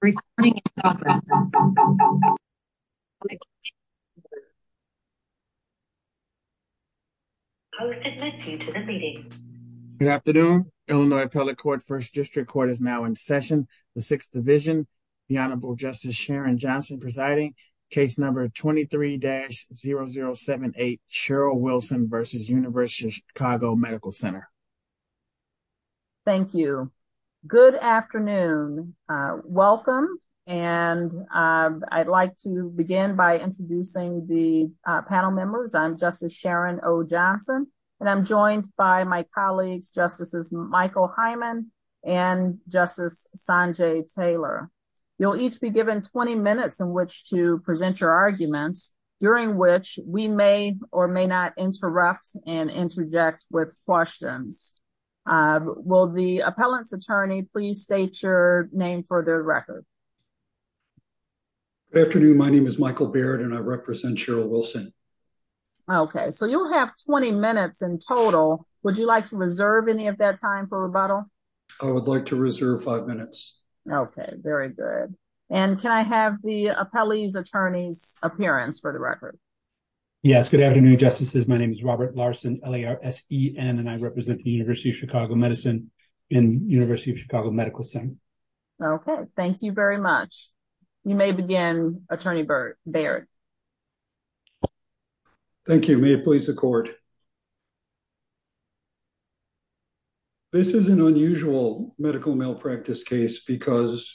Good afternoon, Illinois Appellate Court, 1st District Court is now in session. The 6th Division, the Honorable Justice Sharon Johnson presiding, case number 23-0078, Cheryl Wilson v. University of Chicago Medical Center. Thank you. Good afternoon. Welcome, and I'd like to begin by introducing the panel members. I'm Justice Sharon O. Johnson, and I'm joined by my colleagues, Justices Michael Hyman and Justice Sanjay Taylor. You'll each be given 20 minutes in which to present your arguments, during which we may or may not interrupt and interject with questions. Will the appellant's attorney please state your name for the record? Good afternoon. My name is Michael Baird, and I represent Cheryl Wilson. Okay, so you'll have 20 minutes in total. Would you like to reserve any of that time for rebuttal? I would like to reserve five minutes. Okay, very good. And can I have the appellee's attorney's appearance for the record? Yes, good afternoon, Justices. My name is Robert Larson, L-A-R-S-E-N, and I represent the University of Chicago Medicine and University of Chicago Medical Center. Okay, thank you very much. You may begin, Attorney Baird. Thank you. May it please the Court. This is an unusual medical malpractice case because,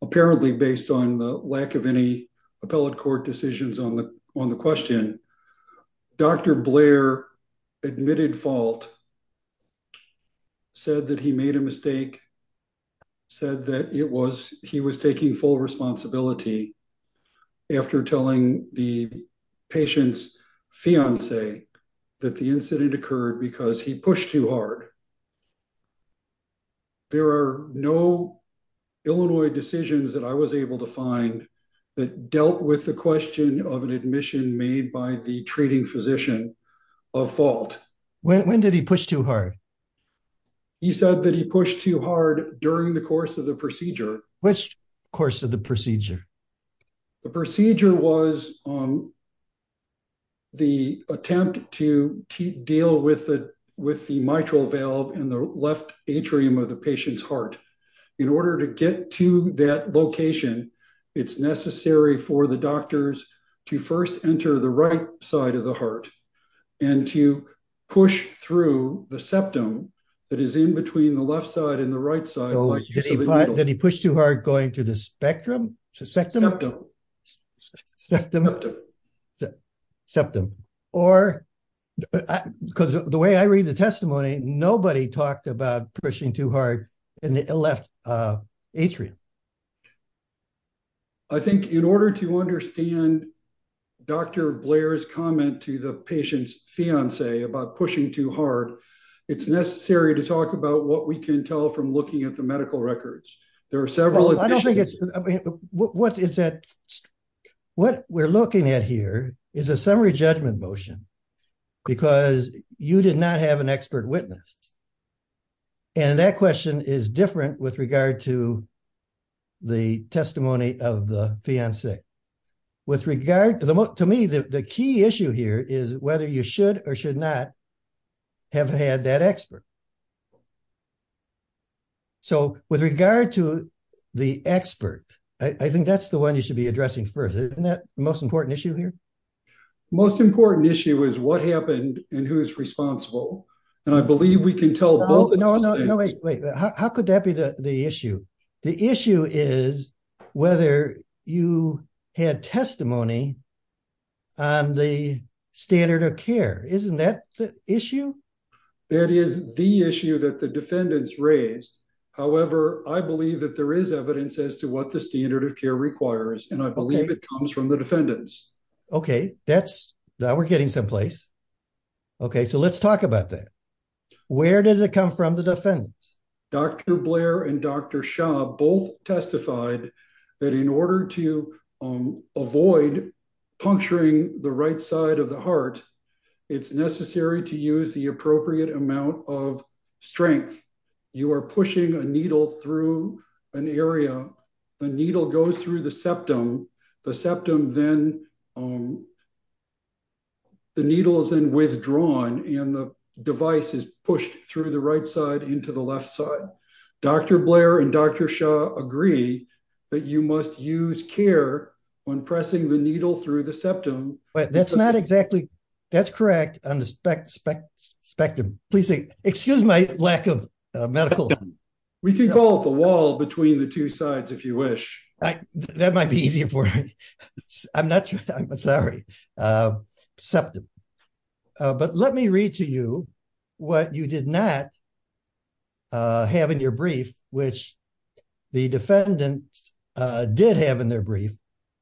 apparently based on the lack of any appellate court decisions on the question, Dr. Blair admitted fault, said that he made a mistake, said that he was taking full responsibility after telling the patient's fiancée that the incident occurred because he pushed too hard. There are no Illinois decisions that I was able to find that dealt with the question of an admission made by the treating physician of fault. When did he push too hard? He said that he pushed too hard during the course of the procedure. Which course of the procedure? The procedure was the attempt to deal with the mitral valve in the left atrium of the patient's heart. In order to get to that location, it's necessary for the doctors to first enter the right side of the heart and to push through the septum that is in between the left side and the right side. Did he push too hard going through the spectrum? Septum. Septum. Or, because the way I read the testimony, nobody talked about pushing too hard in the left atrium. I think in order to understand Dr. Blair's comment to the patient's fiancée about pushing too hard, it's necessary to talk about what we can tell from looking at the medical records. What we're looking at here is a summary judgment motion because you did not have an expert witness. And that question is different with regard to the testimony of the fiancée. To me, the key issue here is whether you should or should not have had that expert. So, with regard to the expert, I think that's the one you should be addressing first. Isn't that the most important issue here? The most important issue is what happened and who is responsible. And I believe we can tell both. No, no, wait. How could that be the issue? The issue is whether you had testimony on the standard of care. Isn't that the issue? That is the issue that the defendants raised. However, I believe that there is evidence as to what the standard of care requires, and I believe it comes from the defendants. Okay, now we're getting some place. Okay, so let's talk about that. Where does it come from, the defendants? Dr. Blair and Dr. Shah both testified that in order to avoid puncturing the right side of the heart, it's necessary to use the appropriate amount of strength. You are pushing a needle through an area. The needle goes through the septum. The septum then, the needle is then withdrawn, and the device is pushed through the right side into the left side. Dr. Blair and Dr. Shah agree that you must use care when pressing the needle through the septum. That's not exactly, that's correct on the spectrum. Please say, excuse my lack of medical. We can call it the wall between the two sides if you wish. That might be easier for me. I'm not sure, I'm sorry. Septum. But let me read to you what you did not have in your brief, which the defendants did have in their brief,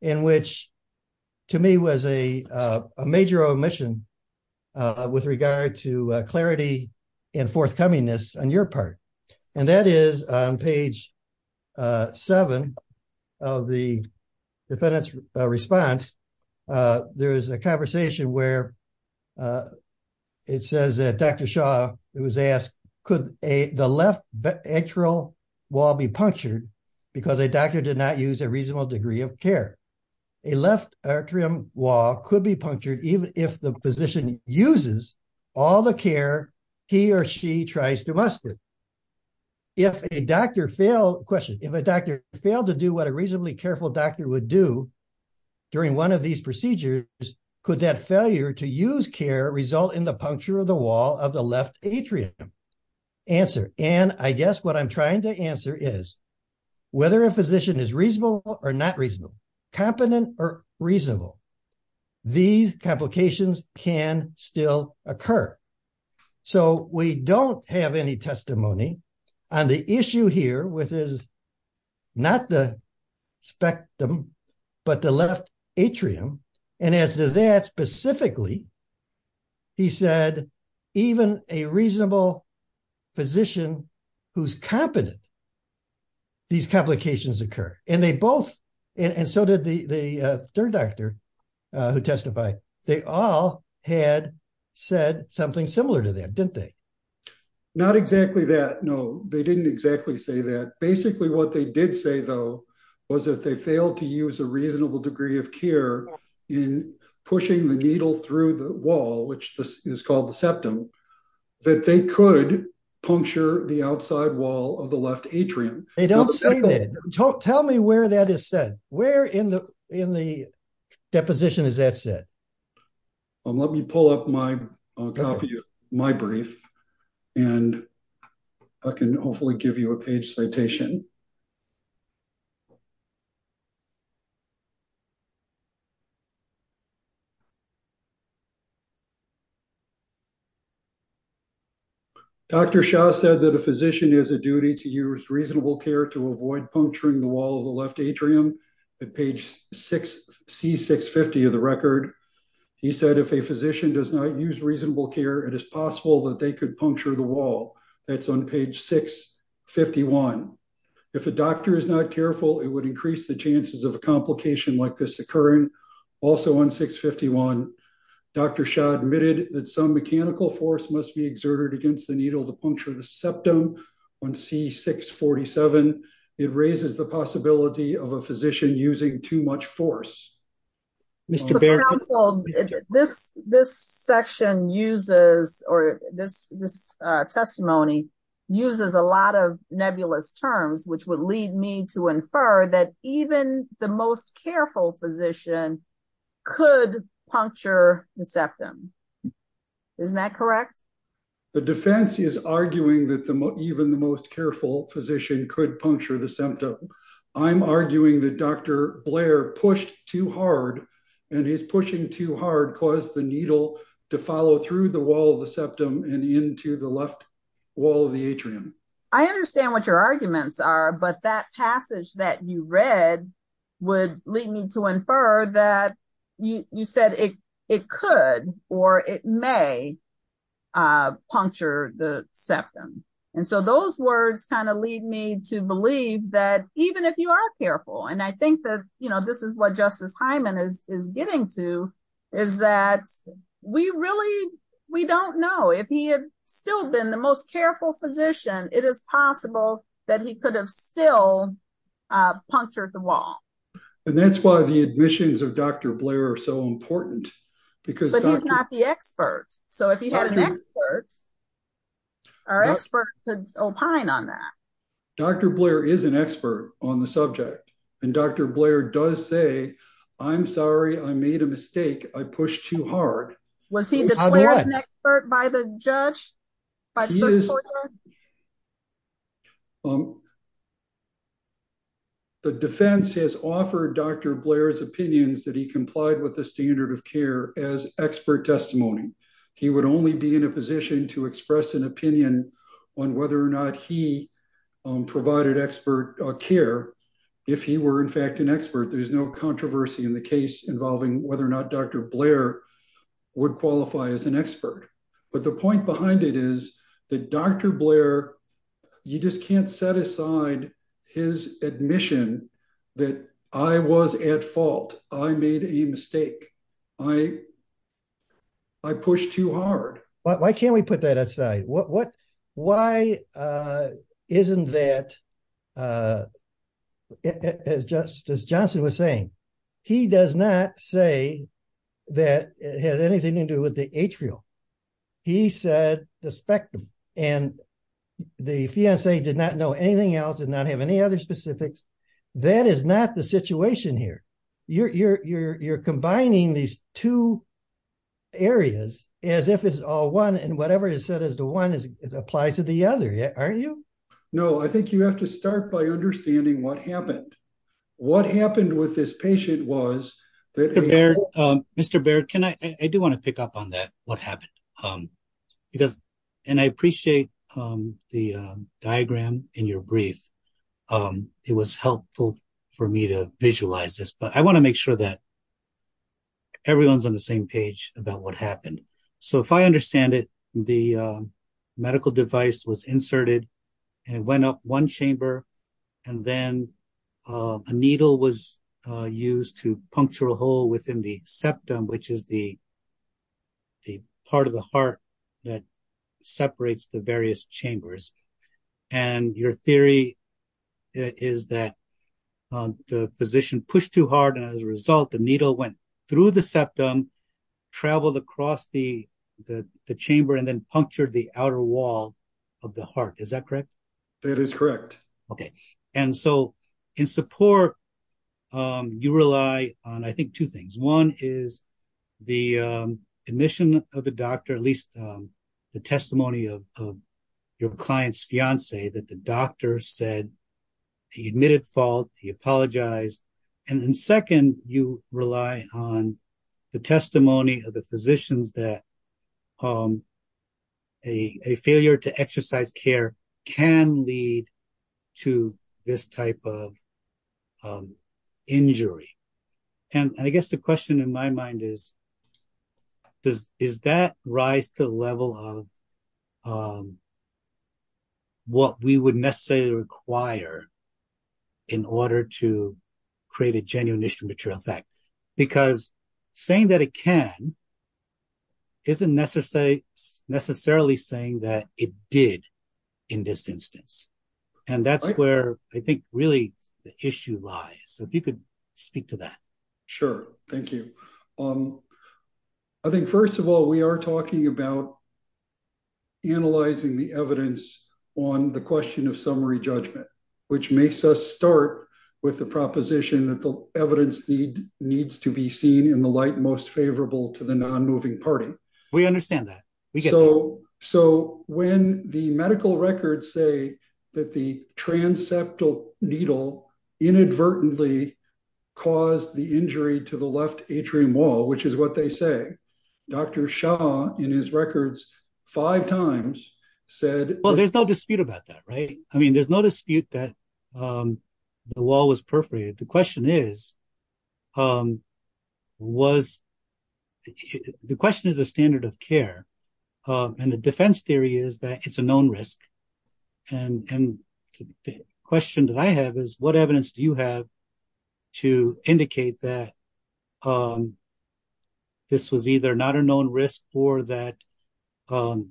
in which to me was a major omission with regard to clarity and forthcomingness on your part. And that is on page seven of the defendant's response. There is a conversation where it says that Dr. Shah was asked, could the left atrial wall be punctured because a doctor did not use a reasonable degree of care? A left atrium wall could be punctured even if the physician uses all the care he or she tries to muster. If a doctor failed, question, if a doctor failed to do what a reasonably careful doctor would do during one of these procedures, could that failure to use care result in the puncture of the wall of the left atrium? Answer, and I guess what I'm trying to answer is whether a physician is reasonable or not reasonable, competent or reasonable, these complications can still occur. So we don't have any testimony on the issue here with his, not the spectrum, but the left atrium. And as to that specifically, he said, even a reasonable physician who's competent, these complications occur. And they both, and so did the third doctor who testified, they all had said something similar to them, didn't they? Not exactly that. No, they didn't exactly say that. Basically, what they did say, though, was that they failed to use a reasonable degree of care in pushing the needle through the wall, which is called the septum, that they could puncture the outside wall of the left atrium. They don't say that. Tell me where that is said. Where in the deposition is that said? Let me pull up my copy of my brief, and I can hopefully give you a page citation. Dr. Shaw said that a physician has a duty to use reasonable care to avoid puncturing the wall of the left atrium. He said if a physician does not use reasonable care, it is possible that they could puncture the wall. That's on page 651. If a doctor is not careful, it would increase the chances of a complication like this occurring. Also on 651, Dr. Shaw admitted that some mechanical force must be exerted against the needle to puncture the septum. On C647, it raises the possibility of a physician using too much force. This testimony uses a lot of nebulous terms, which would lead me to infer that even the most careful physician could puncture the septum. Isn't that correct? The defense is arguing that even the most careful physician could puncture the septum. I'm arguing that Dr. Blair pushed too hard, and his pushing too hard caused the needle to follow through the wall of the septum and into the left wall of the atrium. I understand what your arguments are, but that passage that you read would lead me to infer that you said it could or it may puncture the septum. Those words lead me to believe that even if you are careful, and I think this is what Justice Hyman is getting to, is that we don't know. If he had still been the most careful physician, it is possible that he could have still punctured the wall. That's why the admissions of Dr. Blair are so important. But he's not the expert. So if he had an expert, our expert could opine on that. Dr. Blair is an expert on the subject, and Dr. Blair does say, I'm sorry, I made a mistake, I pushed too hard. Was he declared an expert by the judge? The defense has offered Dr. Blair's opinions that he complied with the standard of care as expert testimony. He would only be in a position to express an opinion on whether or not he provided expert care if he were in fact an expert. There's no controversy in the case involving whether or not Dr. Blair would qualify as an expert. But the point behind it is that Dr. Blair, you just can't set aside his admission that I was at fault, I made a mistake, I pushed too hard. Why can't we put that aside? Why isn't that, as Johnson was saying, he does not say that it had anything to do with the atrial. He said the spectrum. And the fiancee did not know anything else and not have any other specifics. That is not the situation here. You're combining these two areas as if it's all one and whatever is said as the one applies to the other, aren't you? No, I think you have to start by understanding what happened. What happened with this patient was that- Mr. Baird, can I, I do want to pick up on that, what happened. Because, and I appreciate the diagram in your brief. It was helpful for me to visualize this, but I want to make sure that everyone's on the same page about what happened. So if I understand it, the medical device was inserted and went up one chamber. And then a needle was used to puncture a hole within the septum, which is the part of the heart that separates the various chambers. And your theory is that the physician pushed too hard. And as a result, the needle went through the septum, traveled across the chamber, and then punctured the outer wall of the heart. Is that correct? That is correct. Okay. And so in support, you rely on, I think, two things. One is the admission of the doctor, at least the testimony of your client's fiance, that the doctor said he admitted fault, he apologized. And then second, you rely on the testimony of the physicians that a failure to exercise care can lead to this type of injury. And I guess the question in my mind is, does that rise to the level of what we would necessarily require in order to create a genuine issue material effect? Because saying that it can isn't necessarily saying that it did in this instance. And that's where I think really the issue lies. So if you could speak to that. Sure. Thank you. I think, first of all, we are talking about analyzing the evidence on the question of summary judgment, which makes us start with the proposition that the evidence needs to be seen in the light most favorable to the non-moving party. We understand that. So when the medical records say that the transeptal needle inadvertently caused the injury to the left atrium wall, which is what they say, Dr. Shah, in his records, five times said... Well, there's no dispute about that, right? I mean, there's no dispute that the wall was perforated. The question is a standard of care. And the defense theory is that it's a known risk. And the question that I have is, what evidence do you have to indicate that this was either not a known risk or that the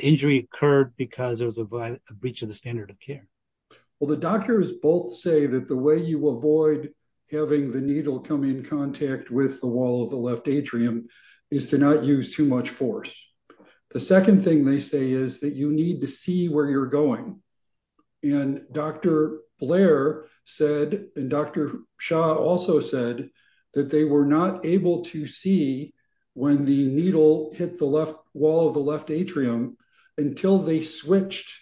injury occurred because there was a breach of the standard of care? Well, the doctors both say that the way you avoid having the needle come in contact with the wall of the left atrium is to not use too much force. The second thing they say is that you need to see where you're going. And Dr. Blair said, and Dr. Shah also said, that they were not able to see when the needle hit the wall of the left atrium until they switched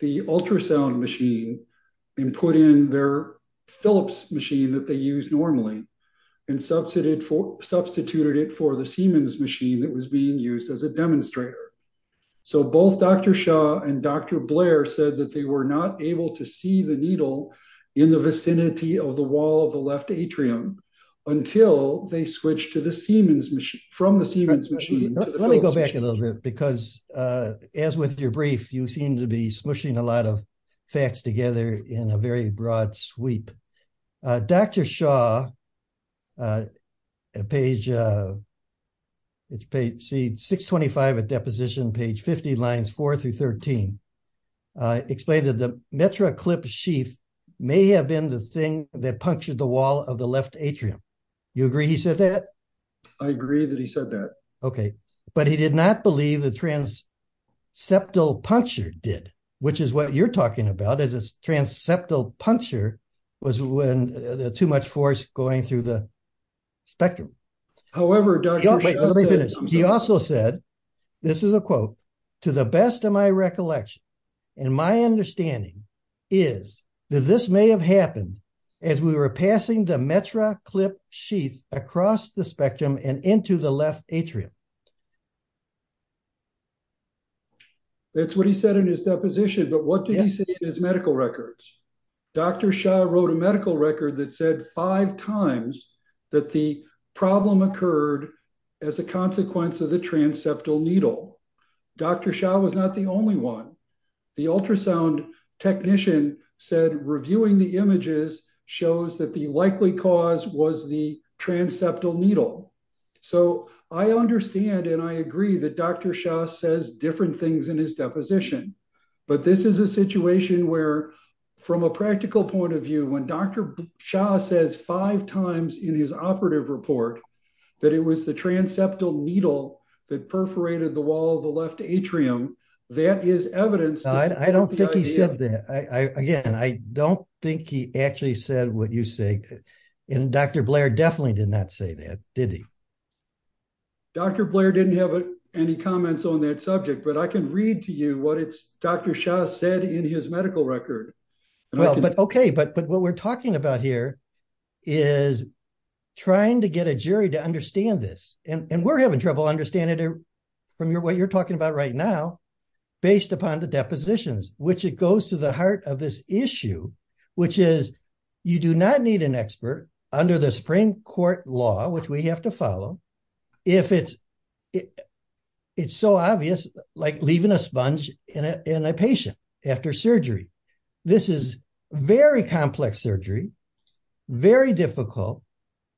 the ultrasound machine and put in their Philips machine that they use normally and substituted it for the Siemens machine that was being used as a demonstrator. So both Dr. Shah and Dr. Blair said that they were not able to see the needle in the vicinity of the wall of the left atrium until they switched from the Siemens machine to the Philips machine. Let me go back a little bit, because as with your brief, you seem to be smooshing a lot of facts together in a very broad sweep. Dr. Shah, page 625 at deposition, page 50, lines 4 through 13, explained that the metraclip sheath may have been the thing that punctured the wall of the left atrium. You agree he said that? I agree that he said that. But he did not believe the transeptal puncture did, which is what you're talking about, is a transeptal puncture was when too much force going through the spectrum. He also said, this is a quote, to the best of my recollection, and my understanding, is that this may have happened as we were passing the metraclip sheath across the spectrum and into the left atrium. That's what he said in his deposition, but what did he say in his medical records? Dr. Shah wrote a medical record that said five times that the problem occurred as a consequence of the transeptal needle. Dr. Shah was not the only one. The ultrasound technician said reviewing the images shows that the likely cause was the transeptal needle. So I understand and I agree that Dr. Shah says different things in his deposition. But this is a situation where, from a practical point of view, when Dr. Shah says five times in his operative report that it was the transeptal needle that perforated the wall of the left atrium, that is evidence. I don't think he said that. Again, I don't think he actually said what you say, and Dr. Blair definitely did not say that, did he? Dr. Blair didn't have any comments on that subject, but I can read to you what Dr. Shah said in his medical record. Okay, but what we're talking about here is trying to get a jury to understand this. And we're having trouble understanding it from what you're talking about right now based upon the depositions, which it goes to the heart of this issue, which is you do not need an expert under the Supreme Court law, which we have to follow, if it's so obvious, like leaving a sponge in a patient after surgery. This is very complex surgery, very difficult.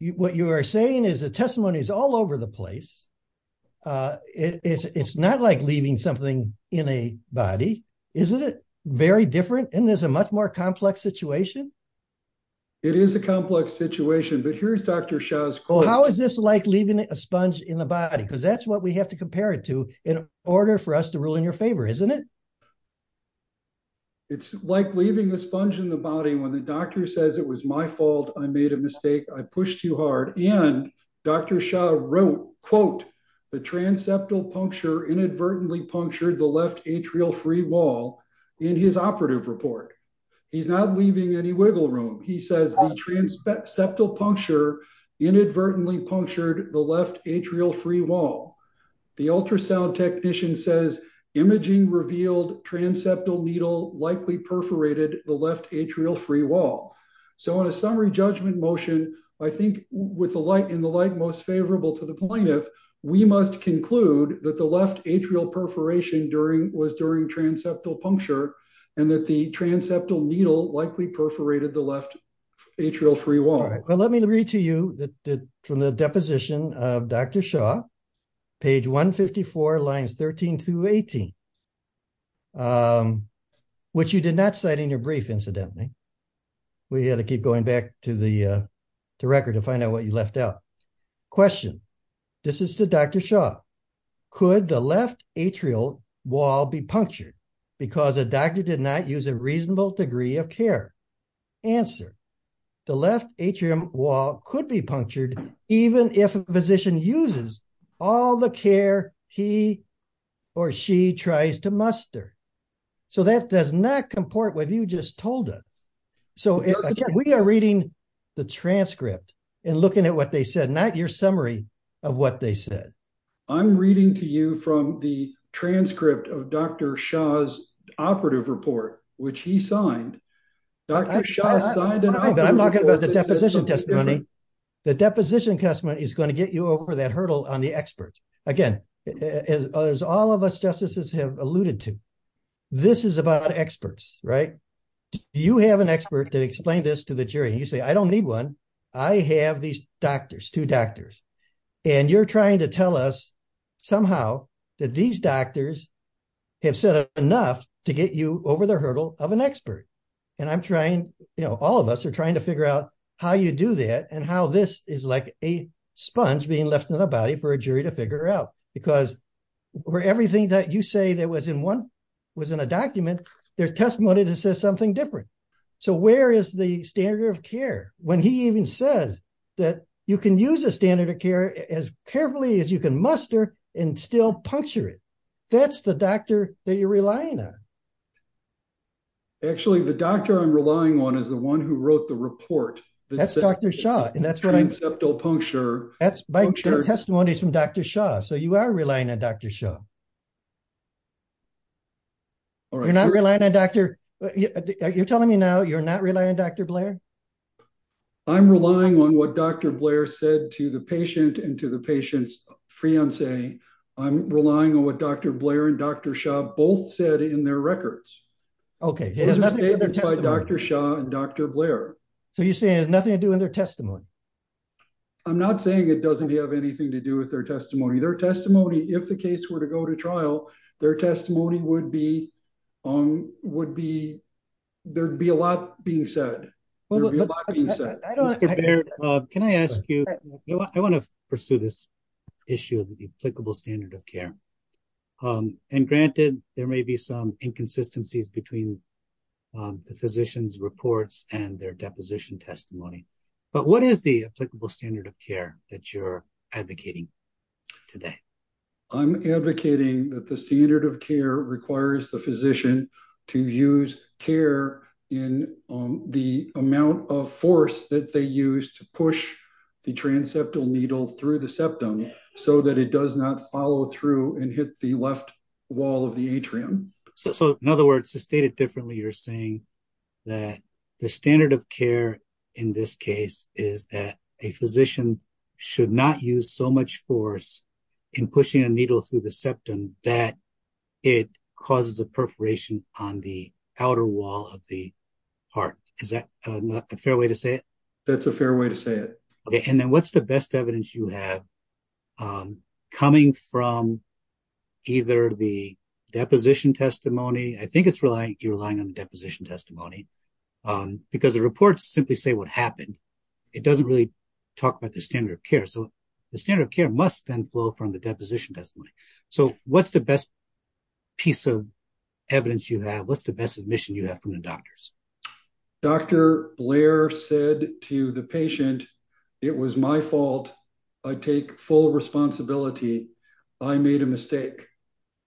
What you are saying is the testimony is all over the place. It's not like leaving something in a body, isn't it? Very different, and there's a much more complex situation. It is a complex situation, but here's Dr. Shah's question. How is this like leaving a sponge in the body? Because that's what we have to compare it to in order for us to rule in your favor, isn't it? It's like leaving a sponge in the body when the doctor says it was my fault, I made a mistake, I pushed too hard. And Dr. Shah wrote, quote, the transeptal puncture inadvertently punctured the left atrial free wall in his operative report. He's not leaving any wiggle room. He says the transeptal puncture inadvertently punctured the left atrial free wall. The ultrasound technician says imaging revealed transeptal needle likely perforated the left atrial free wall. So in a summary judgment motion, I think with the light in the light most favorable to the plaintiff, we must conclude that the left atrial perforation was during transeptal puncture, and that the transeptal needle likely perforated the left atrial free wall. All right, well, let me read to you from the deposition of Dr. Shah, page 154, lines 13 through 18, which you did not cite in your brief, incidentally. We had to keep going back to the record to find out what you left out. Question, this is to Dr. Shah. Could the left atrial wall be punctured because a doctor did not use a reasonable degree of care? Answer, the left atrium wall could be punctured even if a physician uses all the care he or she tries to muster. So that does not comport with what you just told us. So again, we are reading the transcript and looking at what they said, not your summary of what they said. I'm reading to you from the transcript of Dr. Shah's operative report, which he signed. I'm talking about the deposition testimony. The deposition testimony is going to get you over that hurdle on the experts. Again, as all of us justices have alluded to, this is about experts, right? You have an expert that explained this to the jury. You say, I don't need one. I have these doctors, two doctors. And you're trying to tell us somehow that these doctors have said enough to get you over the hurdle of an expert. And I'm trying, you know, all of us are trying to figure out how you do that and how this is like a sponge being left in the body for a jury to figure out. Because for everything that you say that was in one, was in a document, they're testimony that says something different. So where is the standard of care? When he even says that you can use a standard of care as carefully as you can muster and still puncture it. That's the doctor that you're relying on. Actually, the doctor I'm relying on is the one who wrote the report. That's Dr. Shah. And that's what I'm. Encephalopuncture. That's my testimonies from Dr. Shah. So you are relying on Dr. Shah. You're not relying on Dr. You're telling me now you're not relying on Dr. Blair. I'm relying on what Dr. Blair said to the patient and to the patient's fiance. I'm relying on what Dr. Blair and Dr. Shah both said in their records. Okay. Dr. Shah and Dr. Blair. So you're saying there's nothing to do in their testimony. I'm not saying it doesn't have anything to do with their testimony. Their testimony. If the case were to go to trial, their testimony would be on would be. There'd be a lot being said. Can I ask you, I want to pursue this issue of the applicable standard of care. And granted, there may be some inconsistencies between. The physician's reports and their deposition testimony. But what is the applicable standard of care that you're advocating? Today. I'm advocating that the standard of care requires the physician. To use care in the amount of force that they use to push. The transeptal needle through the septum. So that it does not follow through and hit the left. Wall of the atrium. So, in other words, to state it differently, you're saying. That the standard of care. In this case is that a physician. Should not use so much force. In pushing a needle through the septum. That it causes a perforation on the outer wall of the heart. Is that a fair way to say it? That's a fair way to say it. Okay. And then what's the best evidence you have? Coming from. Either the deposition testimony. I think it's relying on deposition testimony. Because the reports simply say what happened. It doesn't really talk about the standard of care. The standard of care must then flow from the deposition testimony. So what's the best. Piece of evidence you have. What's the best admission you have from the doctors. Dr. Blair said to the patient. It was my fault. I take full responsibility. I made a mistake.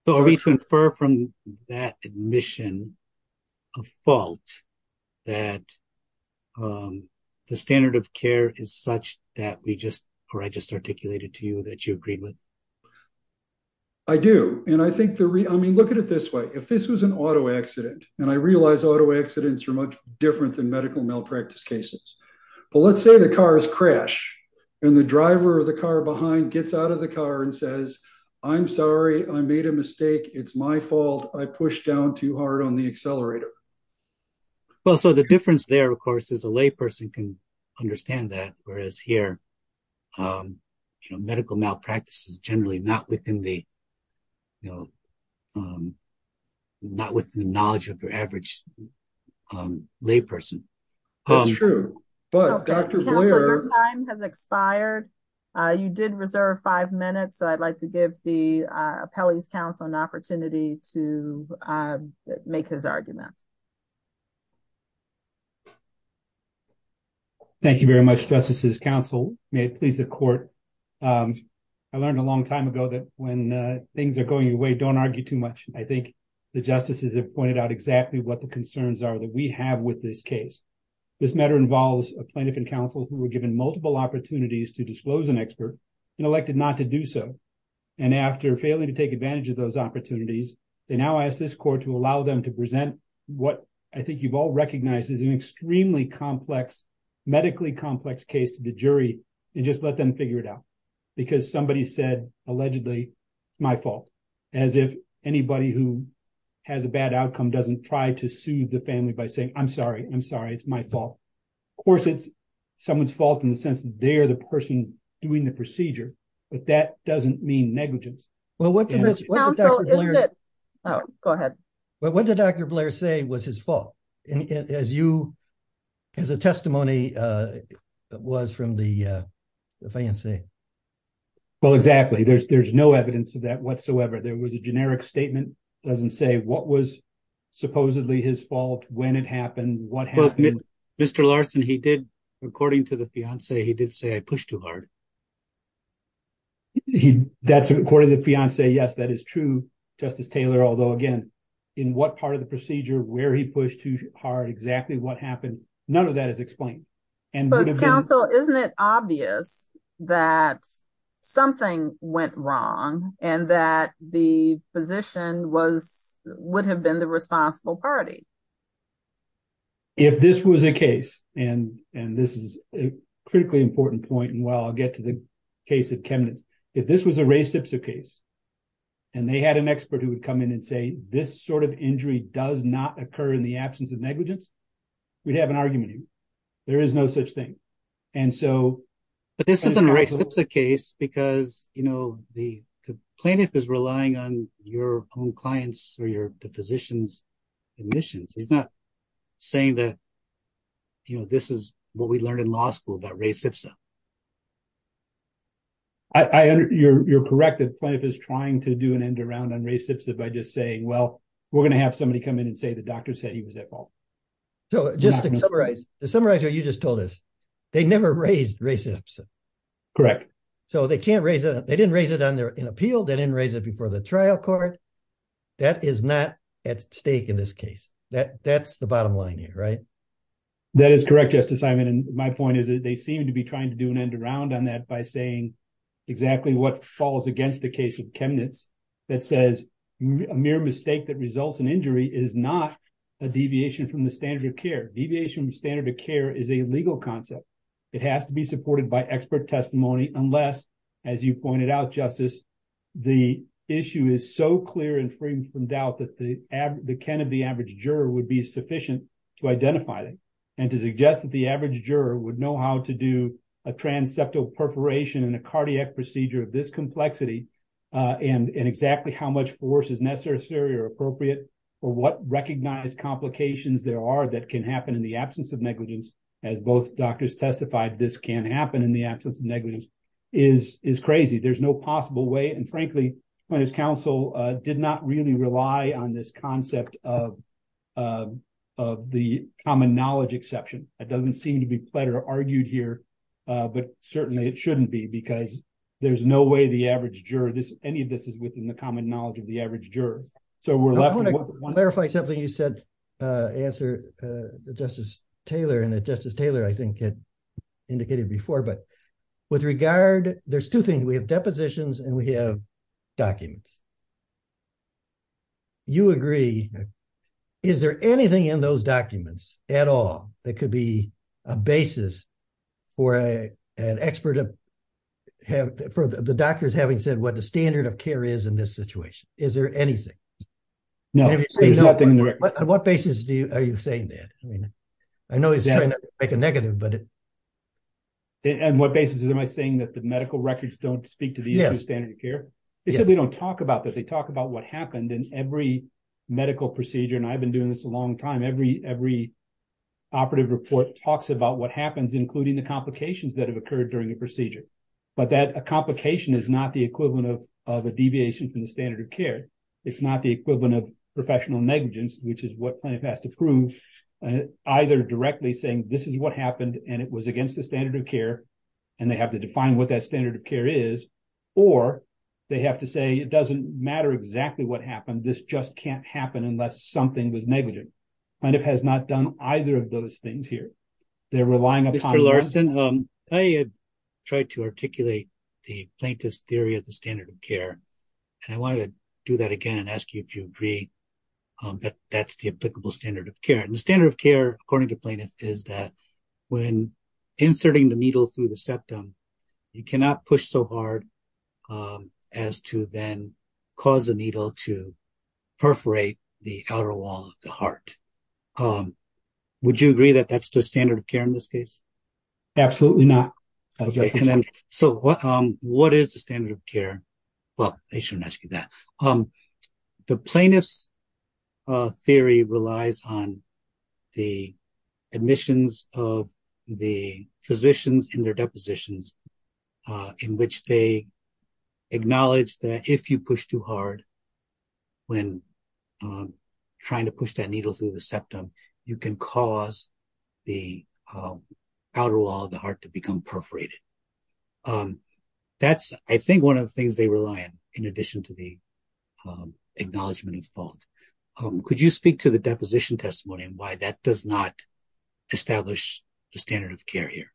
So are we to infer from that admission? A fault. That. The standard of care is such that we just. Or I just articulated to you that you agreed with. I do. And I think the re I mean, look at it this way. If this was an auto accident. And I realize auto accidents are much different than medical malpractice cases. Well, let's say the cars crash. And the driver of the car behind gets out of the car and says, I'm sorry. I made a mistake. It's my fault. I pushed down too hard on the accelerator. And the driver of the car behind says, I'm sorry. I pushed down too hard on the accelerator. Well, so the difference there, of course, is a lay person can. Understand that. Whereas here. You know, medical malpractice is generally not within the. You know, Not with the knowledge of your average. Lay person. That's true. But Dr. Time has expired. I think there's a lot of things that need to be. Reserved. You did reserve five minutes. So I'd like to give the appellees council an opportunity to. Make his argument. Thank you very much. Justices council. Please the court. I learned a long time ago that when things are going away, don't argue too much. I think the justices have pointed out exactly what the concerns are that we have with this case. This matter involves a plaintiff and counsel who were given multiple opportunities to disclose an expert. And elected not to do so. And after failing to take advantage of those opportunities, they now ask this court to allow them to present. What I think you've all recognized is an extremely complex. Medically complex case to the jury. And just let them figure it out. Because somebody said, allegedly. It's my fault. As if anybody who. Has a bad outcome. Doesn't try to sue the family by saying, I'm sorry. I'm sorry. It's my fault. Of course it's someone's fault in the sense that they are the person. Doing the procedure. But that doesn't mean negligence. Well, what. Oh, go ahead. Well, what did Dr. Blair say was his fault? As you. As a testimony. It was from the. Fiancee. Well, exactly. There's, there's no evidence of that whatsoever. There was a generic statement. Doesn't say what was. Supposedly his fault when it happened. Mr. Larson, he did. According to the fiance, he did say I pushed too hard. That's according to the fiance. Yes, that is true. Justice Taylor. Although again. In what part of the procedure where he pushed too hard. Exactly what happened? None of that is explained. And. Counsel, isn't it obvious that. Something went wrong and that the physician was, would have been the responsible party. If this was a case and, and this is. Critically important point. And while I'll get to the case of Kevin. If this was a race, it's a case. And they had an expert who would come in and say, this sort of injury does not occur in the absence of negligence. We'd have an argument. There is no such thing. And so. But this isn't a race. It's a case because, you know, the. The plaintiff is relying on your own clients or your. The physician's admissions. He's not saying that. You know, this is what we learned in law school. I, I, you're, you're correct. That plant is trying to do an end around on race. If I just say, well, we're going to have somebody come in and say, the doctor said he was at fault. So just to summarize, to summarize what you just told us. They never raised racism. Correct. So they can't raise it. They didn't raise it on their appeal. They didn't raise it before the trial court. That is not at stake in this case. That that's the bottom line here, right? That is correct. Justice. Okay. Thank you, Simon. My point is that they seem to be trying to do an end around on that by saying. Exactly what falls against the case of chemnitz. That says. A mere mistake that results in injury is not. A deviation from the standard of care deviation standard of care is a legal concept. It has to be supported by expert testimony, unless, as you pointed out justice. I think that the, the, the issue is. The issue is so clear and free from doubt that the ad, the can of the average juror would be sufficient. To identify them. And to suggest that the average juror would know how to do a transceptal perforation and a cardiac procedure of this complexity. And in exactly how much force is necessary or appropriate. For what recognized complications there are that can happen in the absence of negligence. As both doctors testified, this can happen in the absence of negligence is, is crazy. There's no possible way. And frankly. When his council did not really rely on this concept of. Of the common knowledge exception. It doesn't seem to be plead or argued here. But certainly it shouldn't be because there's no way the average juror this, any of this is within the common knowledge of the average juror. So we're laughing. I want to clarify something you said. Answer. Justice Taylor and that justice Taylor, I think. Indicated before, but. With regard, there's two things. We have depositions and we have. Documents. You agree. Is there anything in those documents at all? That could be a basis. Or a, an expert. For the doctors having said what the standard of care is in this situation. Is there anything. No. What basis do you, are you saying that? I know he's trying to make a negative, but. And what basis is, am I saying that the medical records don't speak to the standard of care? They said, we don't talk about that. They talk about what happened in every medical procedure. And I've been doing this a long time, every, every. Operative report talks about what happens, but they don't talk about the standard of care. The standard of care is, is including the complications that have occurred during the procedure. But that a complication is not the equivalent of, of a deviation from the standard of care. It's not the equivalent of professional negligence, which is what plan has to prove. Either directly saying this is what happened and it was against the standard of care. And they have to define what that standard of care is. Or they have to say, it doesn't matter exactly what happened. This just can't happen unless something was negligent. And it has not done either of those things here. They're relying upon. I tried to articulate. The plaintiff's theory of the standard of care. And I wanted to do that again and ask you if you agree. That's the applicable standard of care and the standard of care, according to plaintiff is that. When inserting the needle through the septum. You cannot push so hard. As to then cause a needle to. Perforate the outer wall of the heart. Would you agree that that's the standard of care in this case? Absolutely not. So what, what is the standard of care? Well, I shouldn't ask you that the plaintiff's theory relies on. The admissions of the physicians in their depositions. In which they. Acknowledge that if you push too hard. When. Trying to push that needle through the septum. You can cause. The. Outer wall of the heart to become perforated. That's I think one of the things they rely on. In addition to the. Acknowledgement of fault. Could you speak to the deposition testimony and why that does not. Establish the standard of care here.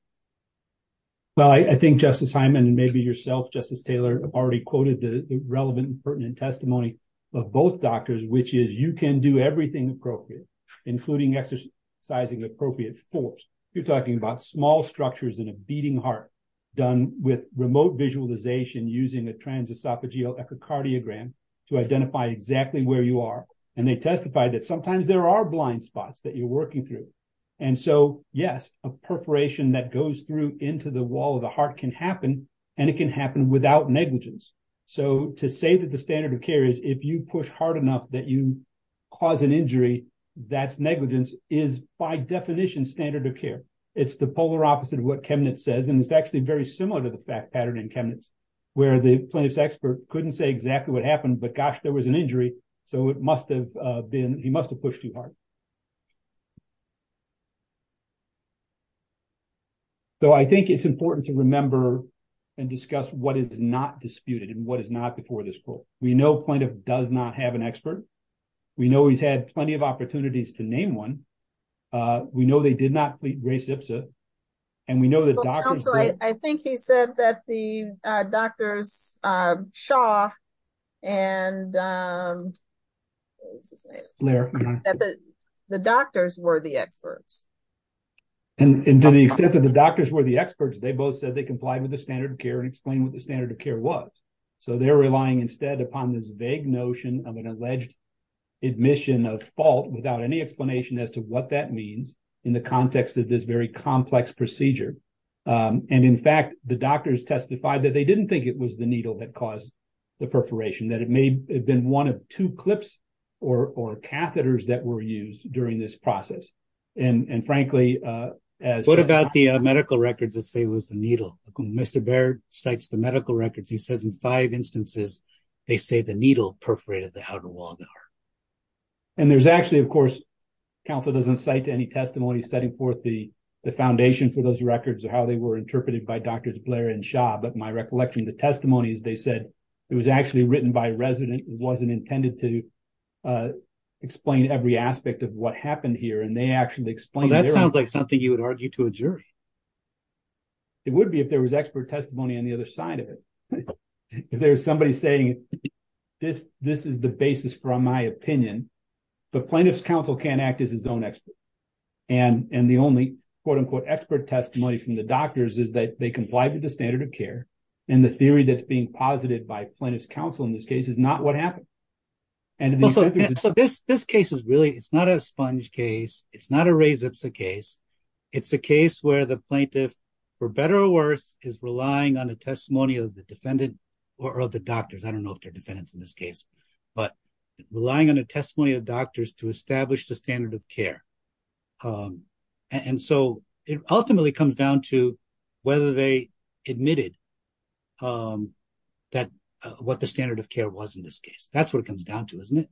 Well, I think justice. Maybe yourself justice Taylor. I've already quoted the relevant pertinent testimony. Of both doctors, which is you can do everything appropriate. Including exercise. Sizing appropriate force. You're talking about small structures in a beating heart. Done with remote visualization, using a trans esophageal echocardiogram. To identify exactly where you are. And they testified that sometimes there are blind spots that you're working through. And so, yes, a perforation that goes through into the wall of the heart can happen. And it can happen without negligence. So to say that the standard of care is if you push hard enough that you. Cause an injury. That's negligence is by definition standard of care. It's the polar opposite of what cabinet says. And it's actually very similar to the fact pattern in chemists. Where the plaintiff's expert couldn't say exactly what happened, but gosh, there was an injury. So it must've been, he must've pushed too hard. So I think it's important to remember. And discuss what is not disputed and what is not before this pool. We know plaintiff does not have an expert. We know he's had plenty of opportunities to name one. We know they did not. And we know that. I think he said that the doctors. Shaw. And. The doctors were the experts. And to the extent that the doctors were the experts, they both said they complied with the standard of care and explain what the standard of care was. So they're relying instead upon this vague notion of an alleged. Admission of fault without any explanation as to what that means. In the context of this very complex procedure. And in fact, The doctors testified that they didn't think it was the needle that caused. The perforation that it may have been one of two clips. Or, or catheters that were used during this process. And, and frankly, as. What about the medical records? Let's say it was the needle. Mr. Baird cites the medical records. He says in five instances. And there's actually, of course. I don't know if the plaintiff's counsel doesn't cite any testimony setting forth the foundation for those records or how they were interpreted by doctors Blair and shop. But my recollection, the testimony is they said it was actually written by resident. It wasn't intended to. Explain every aspect of what happened here. And they actually explained. That sounds like something you would argue to a jury. It would be if there was expert testimony on the other side of it. If there's somebody saying this, this is the basis from my opinion. The plaintiff's counsel can act as his own expert. And, and the only quote unquote expert testimony from the doctors is that they comply with the standard of care. And the theory that's being posited by plaintiff's counsel in this case is not what happened. So this, this case is really, it's not a sponge case. It's not a razor. It's a case. It's a case where the plaintiff. For better or worse is relying on a testimony of the defendant. Or of the doctors. I don't know if they're defendants in this case, but relying on a testimony of doctors to establish the standard of care. And so it ultimately comes down to whether they admitted. That what the standard of care was in this case, that's what it comes down to, isn't it?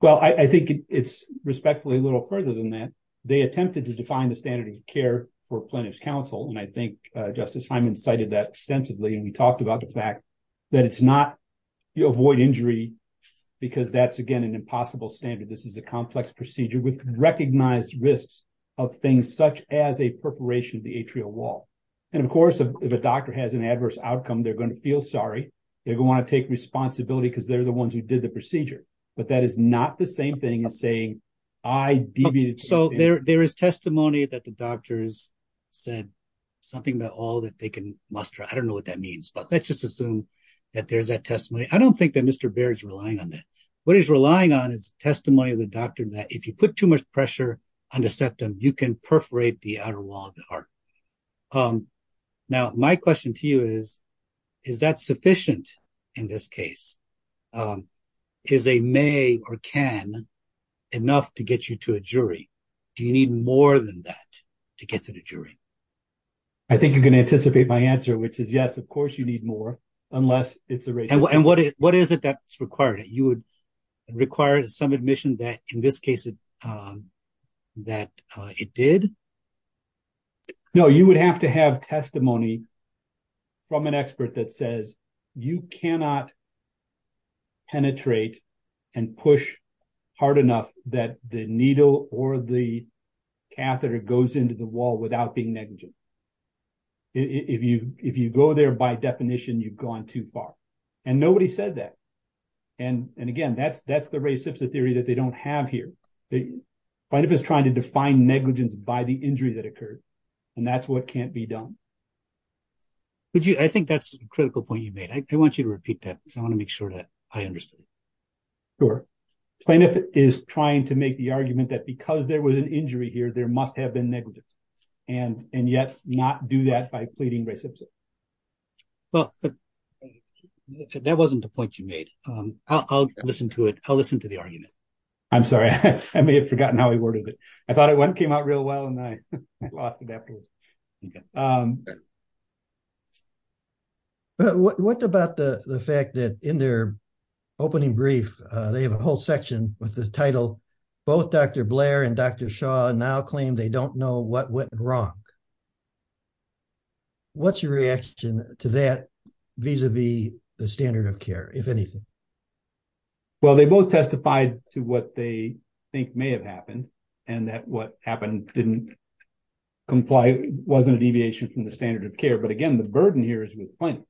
Well, I think it's respectfully a little further than that. They attempted to define the standard of care for plaintiff's counsel. And I think justice, I'm incited that extensively. And we talked about the fact that it's not, you avoid injury. Because that's again, an impossible standard. This is a complex procedure with recognized risks of things such as a perforation of the atrial wall. And of course, if a doctor has an adverse outcome, they're going to feel sorry. They're going to want to take responsibility because they're the ones who did the procedure. But that is not the same thing as saying I deviated. So there, there is testimony that the doctors said something about all that they can muster. I don't know what that means, but let's just assume that there's that testimony. I don't think that Mr. Barry's relying on that. What he's relying on is testimony of the doctor that if you put too much pressure on the septum, you can perforate the outer wall of the heart. Now, my question to you is, is that sufficient in this case? Is a may or can enough to get you to a jury? Do you need more than that to get to the jury? I think you can anticipate my answer, which is yes, of course you need more unless it's a race. And what is it that's required that you would require some admission that in this case that it did. No, you would have to have testimony from an expert that says you cannot penetrate and push hard enough that the needle or the catheter goes into the wall without being negligent. If you if you go there, by definition, you've gone too far. And nobody said that. And and again, that's that's the race theory that they don't have here. But if it's trying to define negligence by the injury that occurred and that's what can't be done. But I think that's a critical point you made. I want you to repeat that because I want to make sure that I understood. Sure. If it is trying to make the argument that because there was an injury here, there must have been negligence and and yet not do that by pleading racist. Well, that wasn't the point you made. I'll listen to it. I'll listen to the argument. I'm sorry. I may have forgotten how he worded it. I thought it came out real well and I lost it afterwards. What about the fact that in their opening brief, they have a whole section with the title, both Dr. Blair and Dr. Shaw now claim they don't know what went wrong. What's your reaction to that vis-a-vis the standard of care, if anything? Well, they both testified to what they think may have happened and that what happened didn't comply, wasn't a deviation from the standard of care. But again, the burden here is with plaintiff.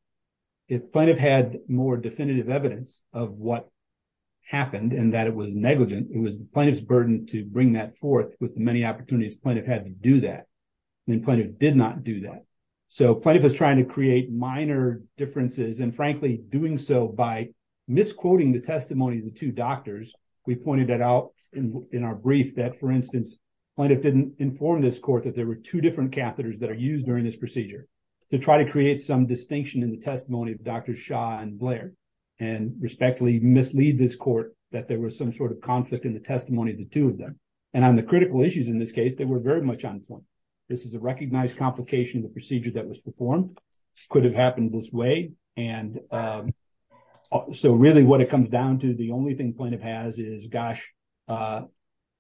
If plaintiff had more definitive evidence of what happened and that it was negligent, it was plaintiff's burden to bring that forth with the many opportunities plaintiff had to do that. And then plaintiff did not do that. So plaintiff is trying to create minor differences and frankly, doing so by misquoting the testimony of the two doctors. We pointed that out in our brief that, for instance, plaintiff didn't inform this court that there were two different catheters that are used during this testimony of Dr. Shaw and Blair and respectfully mislead this court that there was some sort of conflict in the testimony of the two of them. And on the critical issues in this case, they were very much on point. This is a recognized complication of the procedure that was performed, could have happened this way. And so really what it comes down to, the only thing plaintiff has is, gosh,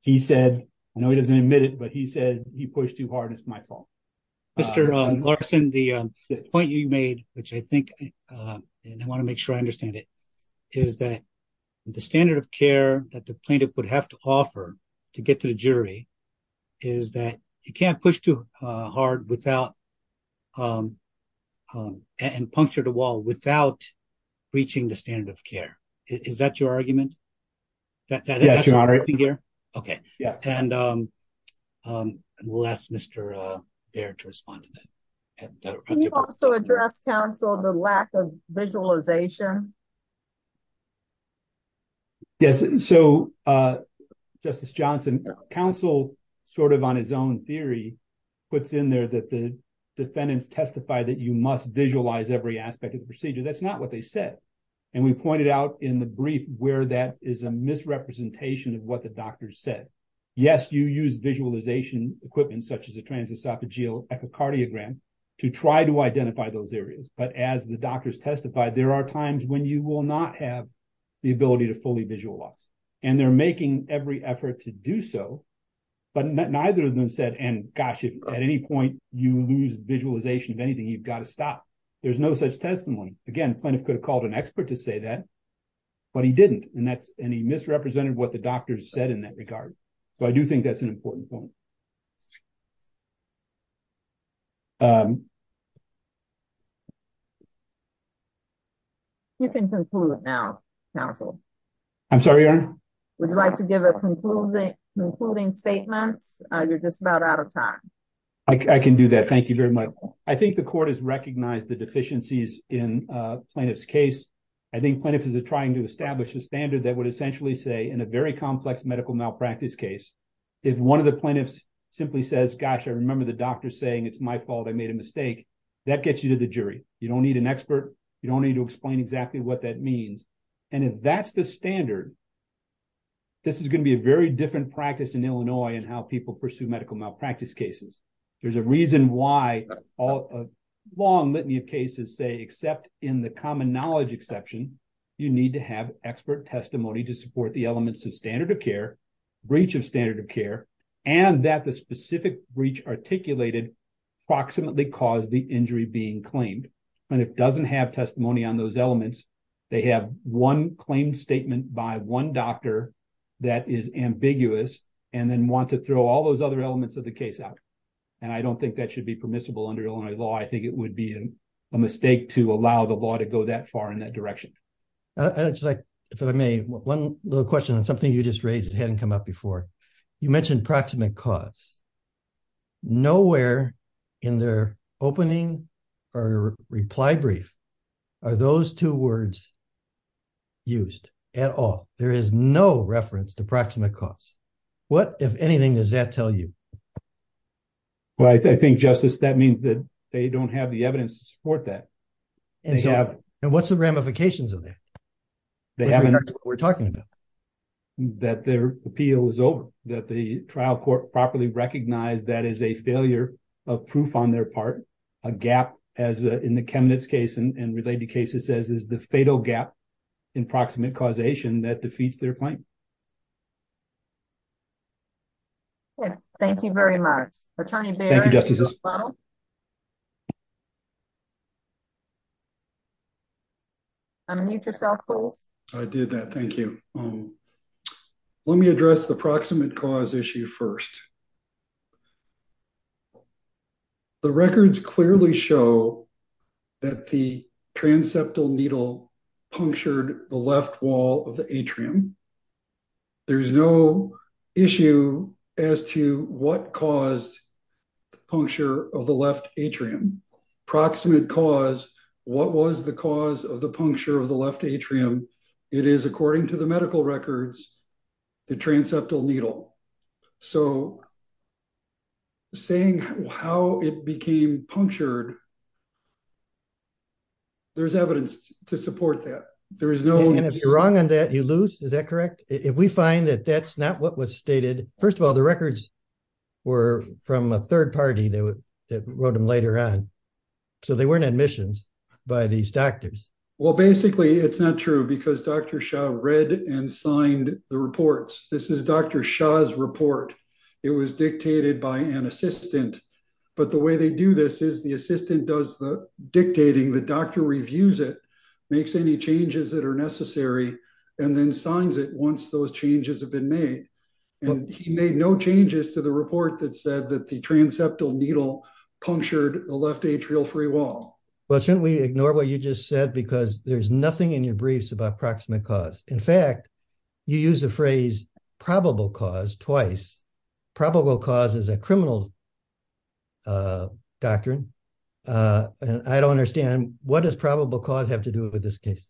he said, I know he doesn't admit it, but he said he pushed too hard and it's my fault. Mr. Larson, the point you made, which I think, and I want to make sure I understand it, is that the standard of care that the plaintiff would have to offer to get to the jury is that you can't push too hard without, and puncture the wall without reaching the standard of care. Is that your argument? Yes, Your Honor. Okay. And we'll ask Mr. Baird to respond to that. Can you also address, counsel, the lack of visualization? Yes. So, Justice Johnson, counsel sort of on his own theory puts in there that the defendants testify that you must visualize every aspect of the procedure. That's not what they said. And we pointed out in the brief where that is a misrepresentation of what the doctors said. Yes, you use visualization equipment such as a transesophageal echocardiogram to try to identify those areas. But as the doctors testified, there are times when you will not have the ability to fully visualize. And they're making every effort to do so, but neither of them said, and gosh, at any point you lose visualization of anything, you've got to stop. There's no such testimony. Again, the plaintiff could have called an expert to say that, but he didn't. And he misrepresented what the doctors said in that regard. But I do think that's an important point. You can conclude now, counsel. I'm sorry, Your Honor? Would you like to give a concluding statement? You're just about out of time. I can do that. Thank you very much. I think the court has recognized the deficiencies in the plaintiff's case. I think plaintiffs are trying to establish a standard that would essentially say, in a very complex medical malpractice case, if one of the plaintiffs simply says, gosh, I remember the doctor saying it's my fault, I made a mistake, that gets you to the jury. You don't need an expert. You don't need to explain exactly what that means. And if that's the standard, this is going to be a very different practice in Illinois in how people pursue medical malpractice cases. There's a reason why a long litany of cases say, except in the common knowledge exception, you need to have expert testimony to support the elements of standard of care, breach of standard of care, and that the specific breach articulated approximately caused the injury being claimed. When a plaintiff doesn't have testimony on those elements, they have one claim statement by one doctor that is ambiguous and then want to throw all those other elements of the case out. And I don't think that should be permissible under Illinois law. I think it would be a mistake to allow the law to go that far in that direction. If I may, one little question on something you just raised that hadn't come up before. You mentioned proximate cause. Nowhere in their opening or reply brief are those two words used at all. There is no reference to proximate cause. What, if anything, does that tell you? Well, I think, Justice, that means that they don't have the evidence to support that. And what's the ramifications of that? That's what we're talking about. That their appeal is over. That the trial court properly recognized that as a failure of proof on their part, a gap, as in the Chemnitz case and related cases, as is the fatal gap in proximate causation that defeats their claim. Okay. Thank you very much. Attorney Barrett. Thank you, Justices. I'm going to mute yourself, Coles. I did that. Thank you. Let me address the proximate cause issue first. The records clearly show that the transeptal needle punctured the left wall of the atrium. There's no issue as to what caused the puncture of the left atrium. Proximate cause, what was the cause of the puncture of the left atrium? It is, according to the medical records, the transeptal needle. So saying how it became punctured, there's evidence to support that. And if you're wrong on that, you lose, is that correct? If we find that that's not what was stated, first of all, the records were from a third party that wrote them later on. So they weren't admissions by these doctors. Well, basically it's not true because Dr. Shah read and signed the reports. This is Dr. Shah's report. It was dictated by an assistant. But the way they do this is the assistant does the dictating, the doctor reviews it, makes any changes that are necessary, and then signs it once those changes have been made. And he made no changes to the report that said that the transeptal needle punctured the left atrial free wall. Well, shouldn't we ignore what you just said? Because there's nothing in your briefs about proximate cause. In fact, you use the phrase probable cause twice. Probable cause is a criminal doctrine. I don't understand. What does probable cause have to do with this case?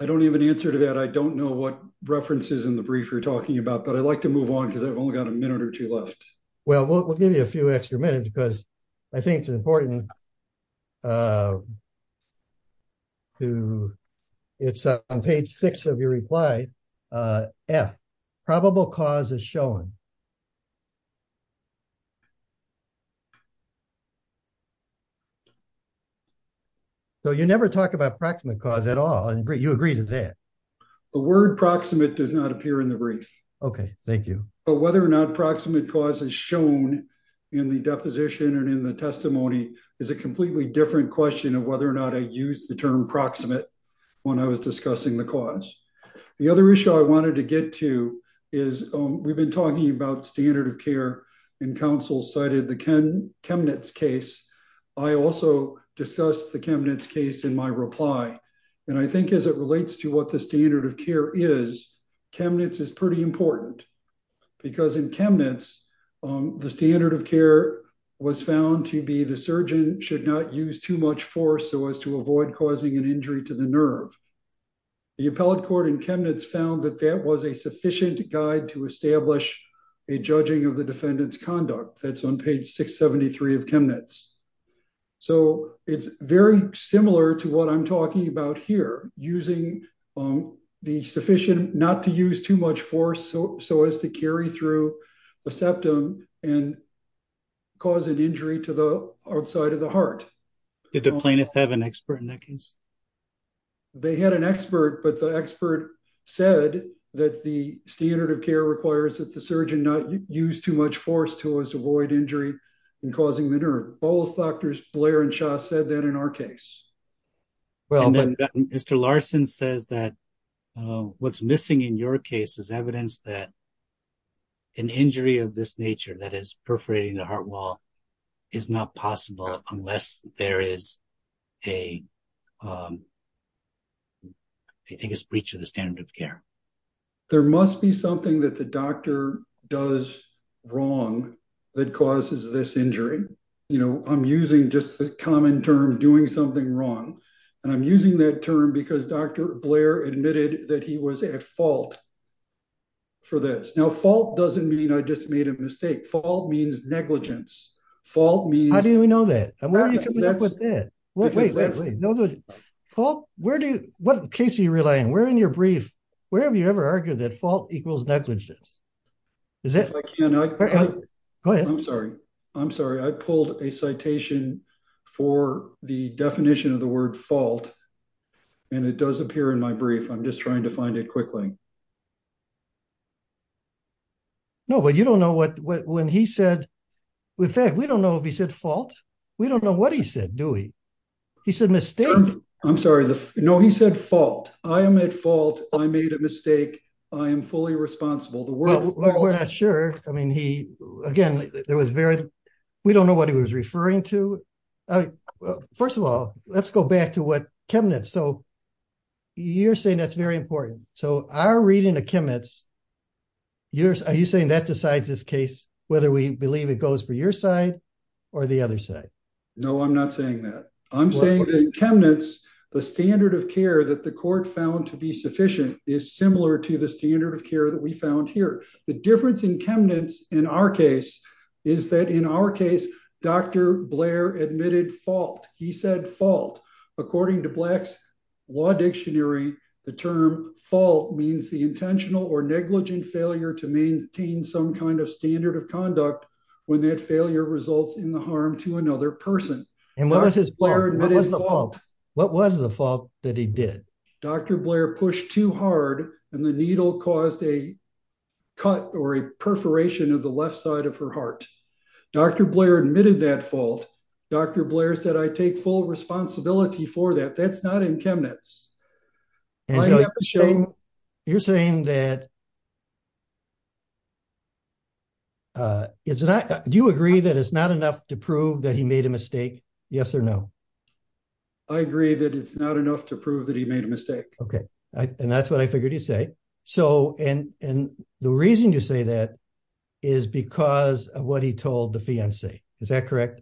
I don't even answer to that. I don't know what references in the brief you're talking about, but I'd like to move on because I've only got a minute or two left. Well, we'll give you a few extra minutes because I think it's important. It's on page six of your reply. F, probable cause is shown. So you never talk about proximate cause at all. You agree to that? The word proximate does not appear in the brief. Okay, thank you. But whether or not proximate cause is shown in the deposition and in the testimony is a completely different question of whether or not I used the term proximate when I was discussing the cause. The other issue I wanted to get to is we've been talking about standard of care and counsel cited the Chemnitz case. I also discussed the Chemnitz case in my reply. And I think as it relates to what the standard of care is, Chemnitz is pretty important because in Chemnitz, the standard of care was found to be the surgeon should not use too much force so as to avoid causing an injury to the nerve. The appellate court in Chemnitz found that that was a sufficient guide to establish a judging of the defendant's conduct. That's on page 673 of Chemnitz. So it's very similar to what I'm talking about here, using the sufficient not to use too much force so as to carry through a septum and cause an injury to the outside of the heart. Did the plaintiff have an expert in that case? They had an expert, but the expert said that the standard of care requires that the surgeon not use too much force to avoid injury and causing the nerve. Both doctors Blair and Shaw said that in our case. Well, Mr. Larson says that what's missing in your case is evidence that an injury of this nature that is perforating the heart wall is not possible unless there is a, um, I think it's breach of the standard of care. There must be something that the doctor does wrong that causes this injury. You know, I'm using just the common term, doing something wrong. And I'm using that term because Dr. Blair admitted that he was at fault for this. Now, fault doesn't mean I just made a mistake. Fault means negligence. Fault means. How do we know that? Well, wait, wait, wait. No, no. Paul, where do you, what case are you relying? We're in your brief. Wherever you ever argued that fault equals negligence. Is that. I'm sorry. I'm sorry. I pulled a citation for the definition of the word fault. And it does appear in my brief. I'm just trying to find it quickly. No, but you don't know what, what, when he said. We don't know if he said fault. We don't know what he said, do we? He said mistake. I'm sorry. No, he said fault. I am at fault. I made a mistake. I am fully responsible. The world. We're not sure. I mean, he, again, there was very, we don't know what he was referring to. First of all, let's go back to what cabinets. So. You're saying that's very important. So our reading of chemists. Years. Are you saying that decides this case, whether we believe it goes for your side. Or the other side. No, I'm not saying that. I'm saying. The standard of care that the court found to be sufficient is similar to the standard of care that we found here. The difference in chemists in our case is that in our case, Dr. Blair admitted fault. He said fault. According to blacks. Law dictionary. The term fall means the intentional or negligent failure to maintain some kind of standard of conduct. When that failure results in the harm to another person. And what was his. What was the fault that he did? Dr. Blair pushed too hard. And the needle caused a. Cut or a perforation of the left side of her heart. Dr. Blair admitted that fault. Dr. Blair said, I take full responsibility for that. That's not in cabinets. You're saying that. It's not, do you agree that it's not enough to prove that he made a mistake? Yes or no. I agree that it's not enough to prove that he made a mistake. Okay. And that's what I figured you'd say. So, and, and the reason you say that. Is because of what he told the fiance. Is that correct?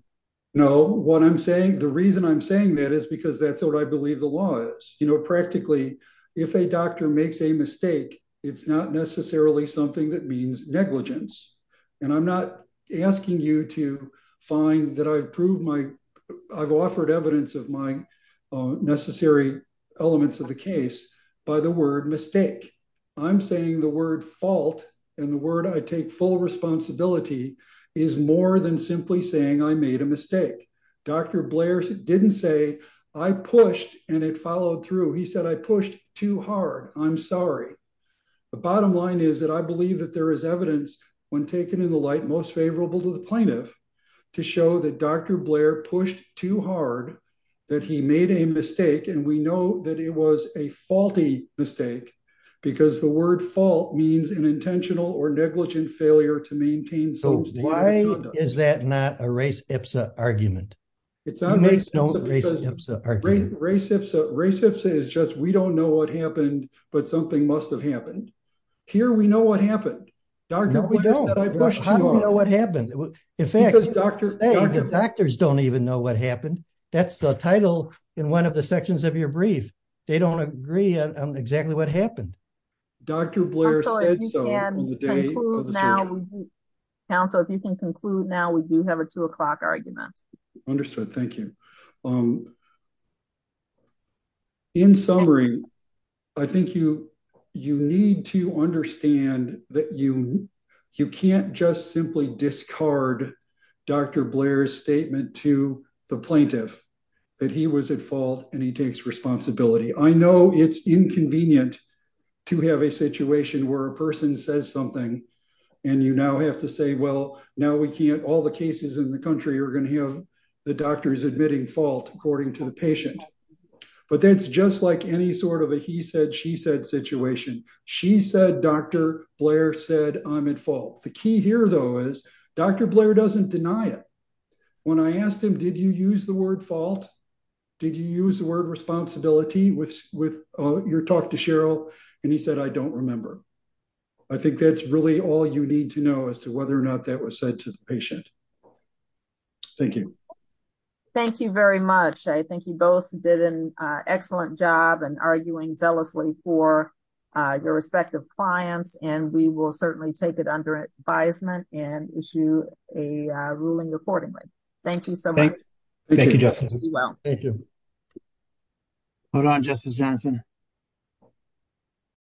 No, what I'm saying? The reason I'm saying that is because that's what I believe the law is. You know, practically. If a doctor makes a mistake. It's not necessarily something that means negligence. And I'm not asking you to find that I've proved my. I've offered evidence of mine. Necessary elements of the case. By the word mistake. I'm saying the word fault. And the word I take full responsibility is more than simply saying I made a mistake. I made a mistake. I made a mistake. Dr. Blair's didn't say. I pushed and it followed through. He said, I pushed too hard. I'm sorry. The bottom line is that I believe that there is evidence when taken in the light, most favorable to the plaintiff. To show that dr. Blair pushed too hard. That he made a mistake and we know that it was a faulty mistake. And I'm not asking you to find that evidence. I'm asking you to find the evidence. Because the word fault means an intentional or negligent failure to maintain. Why is that not a race? It's a argument. It's not. It's a race. It's just, we don't know what happened. But something must've happened. Here. We know what happened. No, we don't. I don't know what happened. In fact, Doctors don't even know what happened. They don't know what happened. And that's the title in one of the sections of your brief. They don't agree on exactly what happened. Dr. Blair. Now. Council, if you can conclude now, we do have a two o'clock argument. Understood. Thank you. In summary. I think you. You need to understand that you. You can't just simply discard. Dr. Blair's statement to the plaintiff. That he was at fault and he takes responsibility. I know it's inconvenient. To have a situation where a person says something. And you now have to say, well, now we can't, all the cases in the country are going to have the doctors admitting fault, according to the patient. But that's just like any sort of a, he said, she said situation. She said, dr. Blair said, I'm at fault. The key here though, is. Dr. Blair doesn't deny it. When I asked him, did you use the word fault? Did you use the word responsibility with. With your talk to Cheryl. And he said, I don't remember. I think that's really all you need to know as to whether or not that was said to the patient. Thank you. Thank you very much. I think you both did an excellent job and arguing zealously for. Your respective clients and we will certainly take it under advisement and issue a ruling accordingly. Thank you so much. Thank you. Well, thank you. Hold on justice Johnson.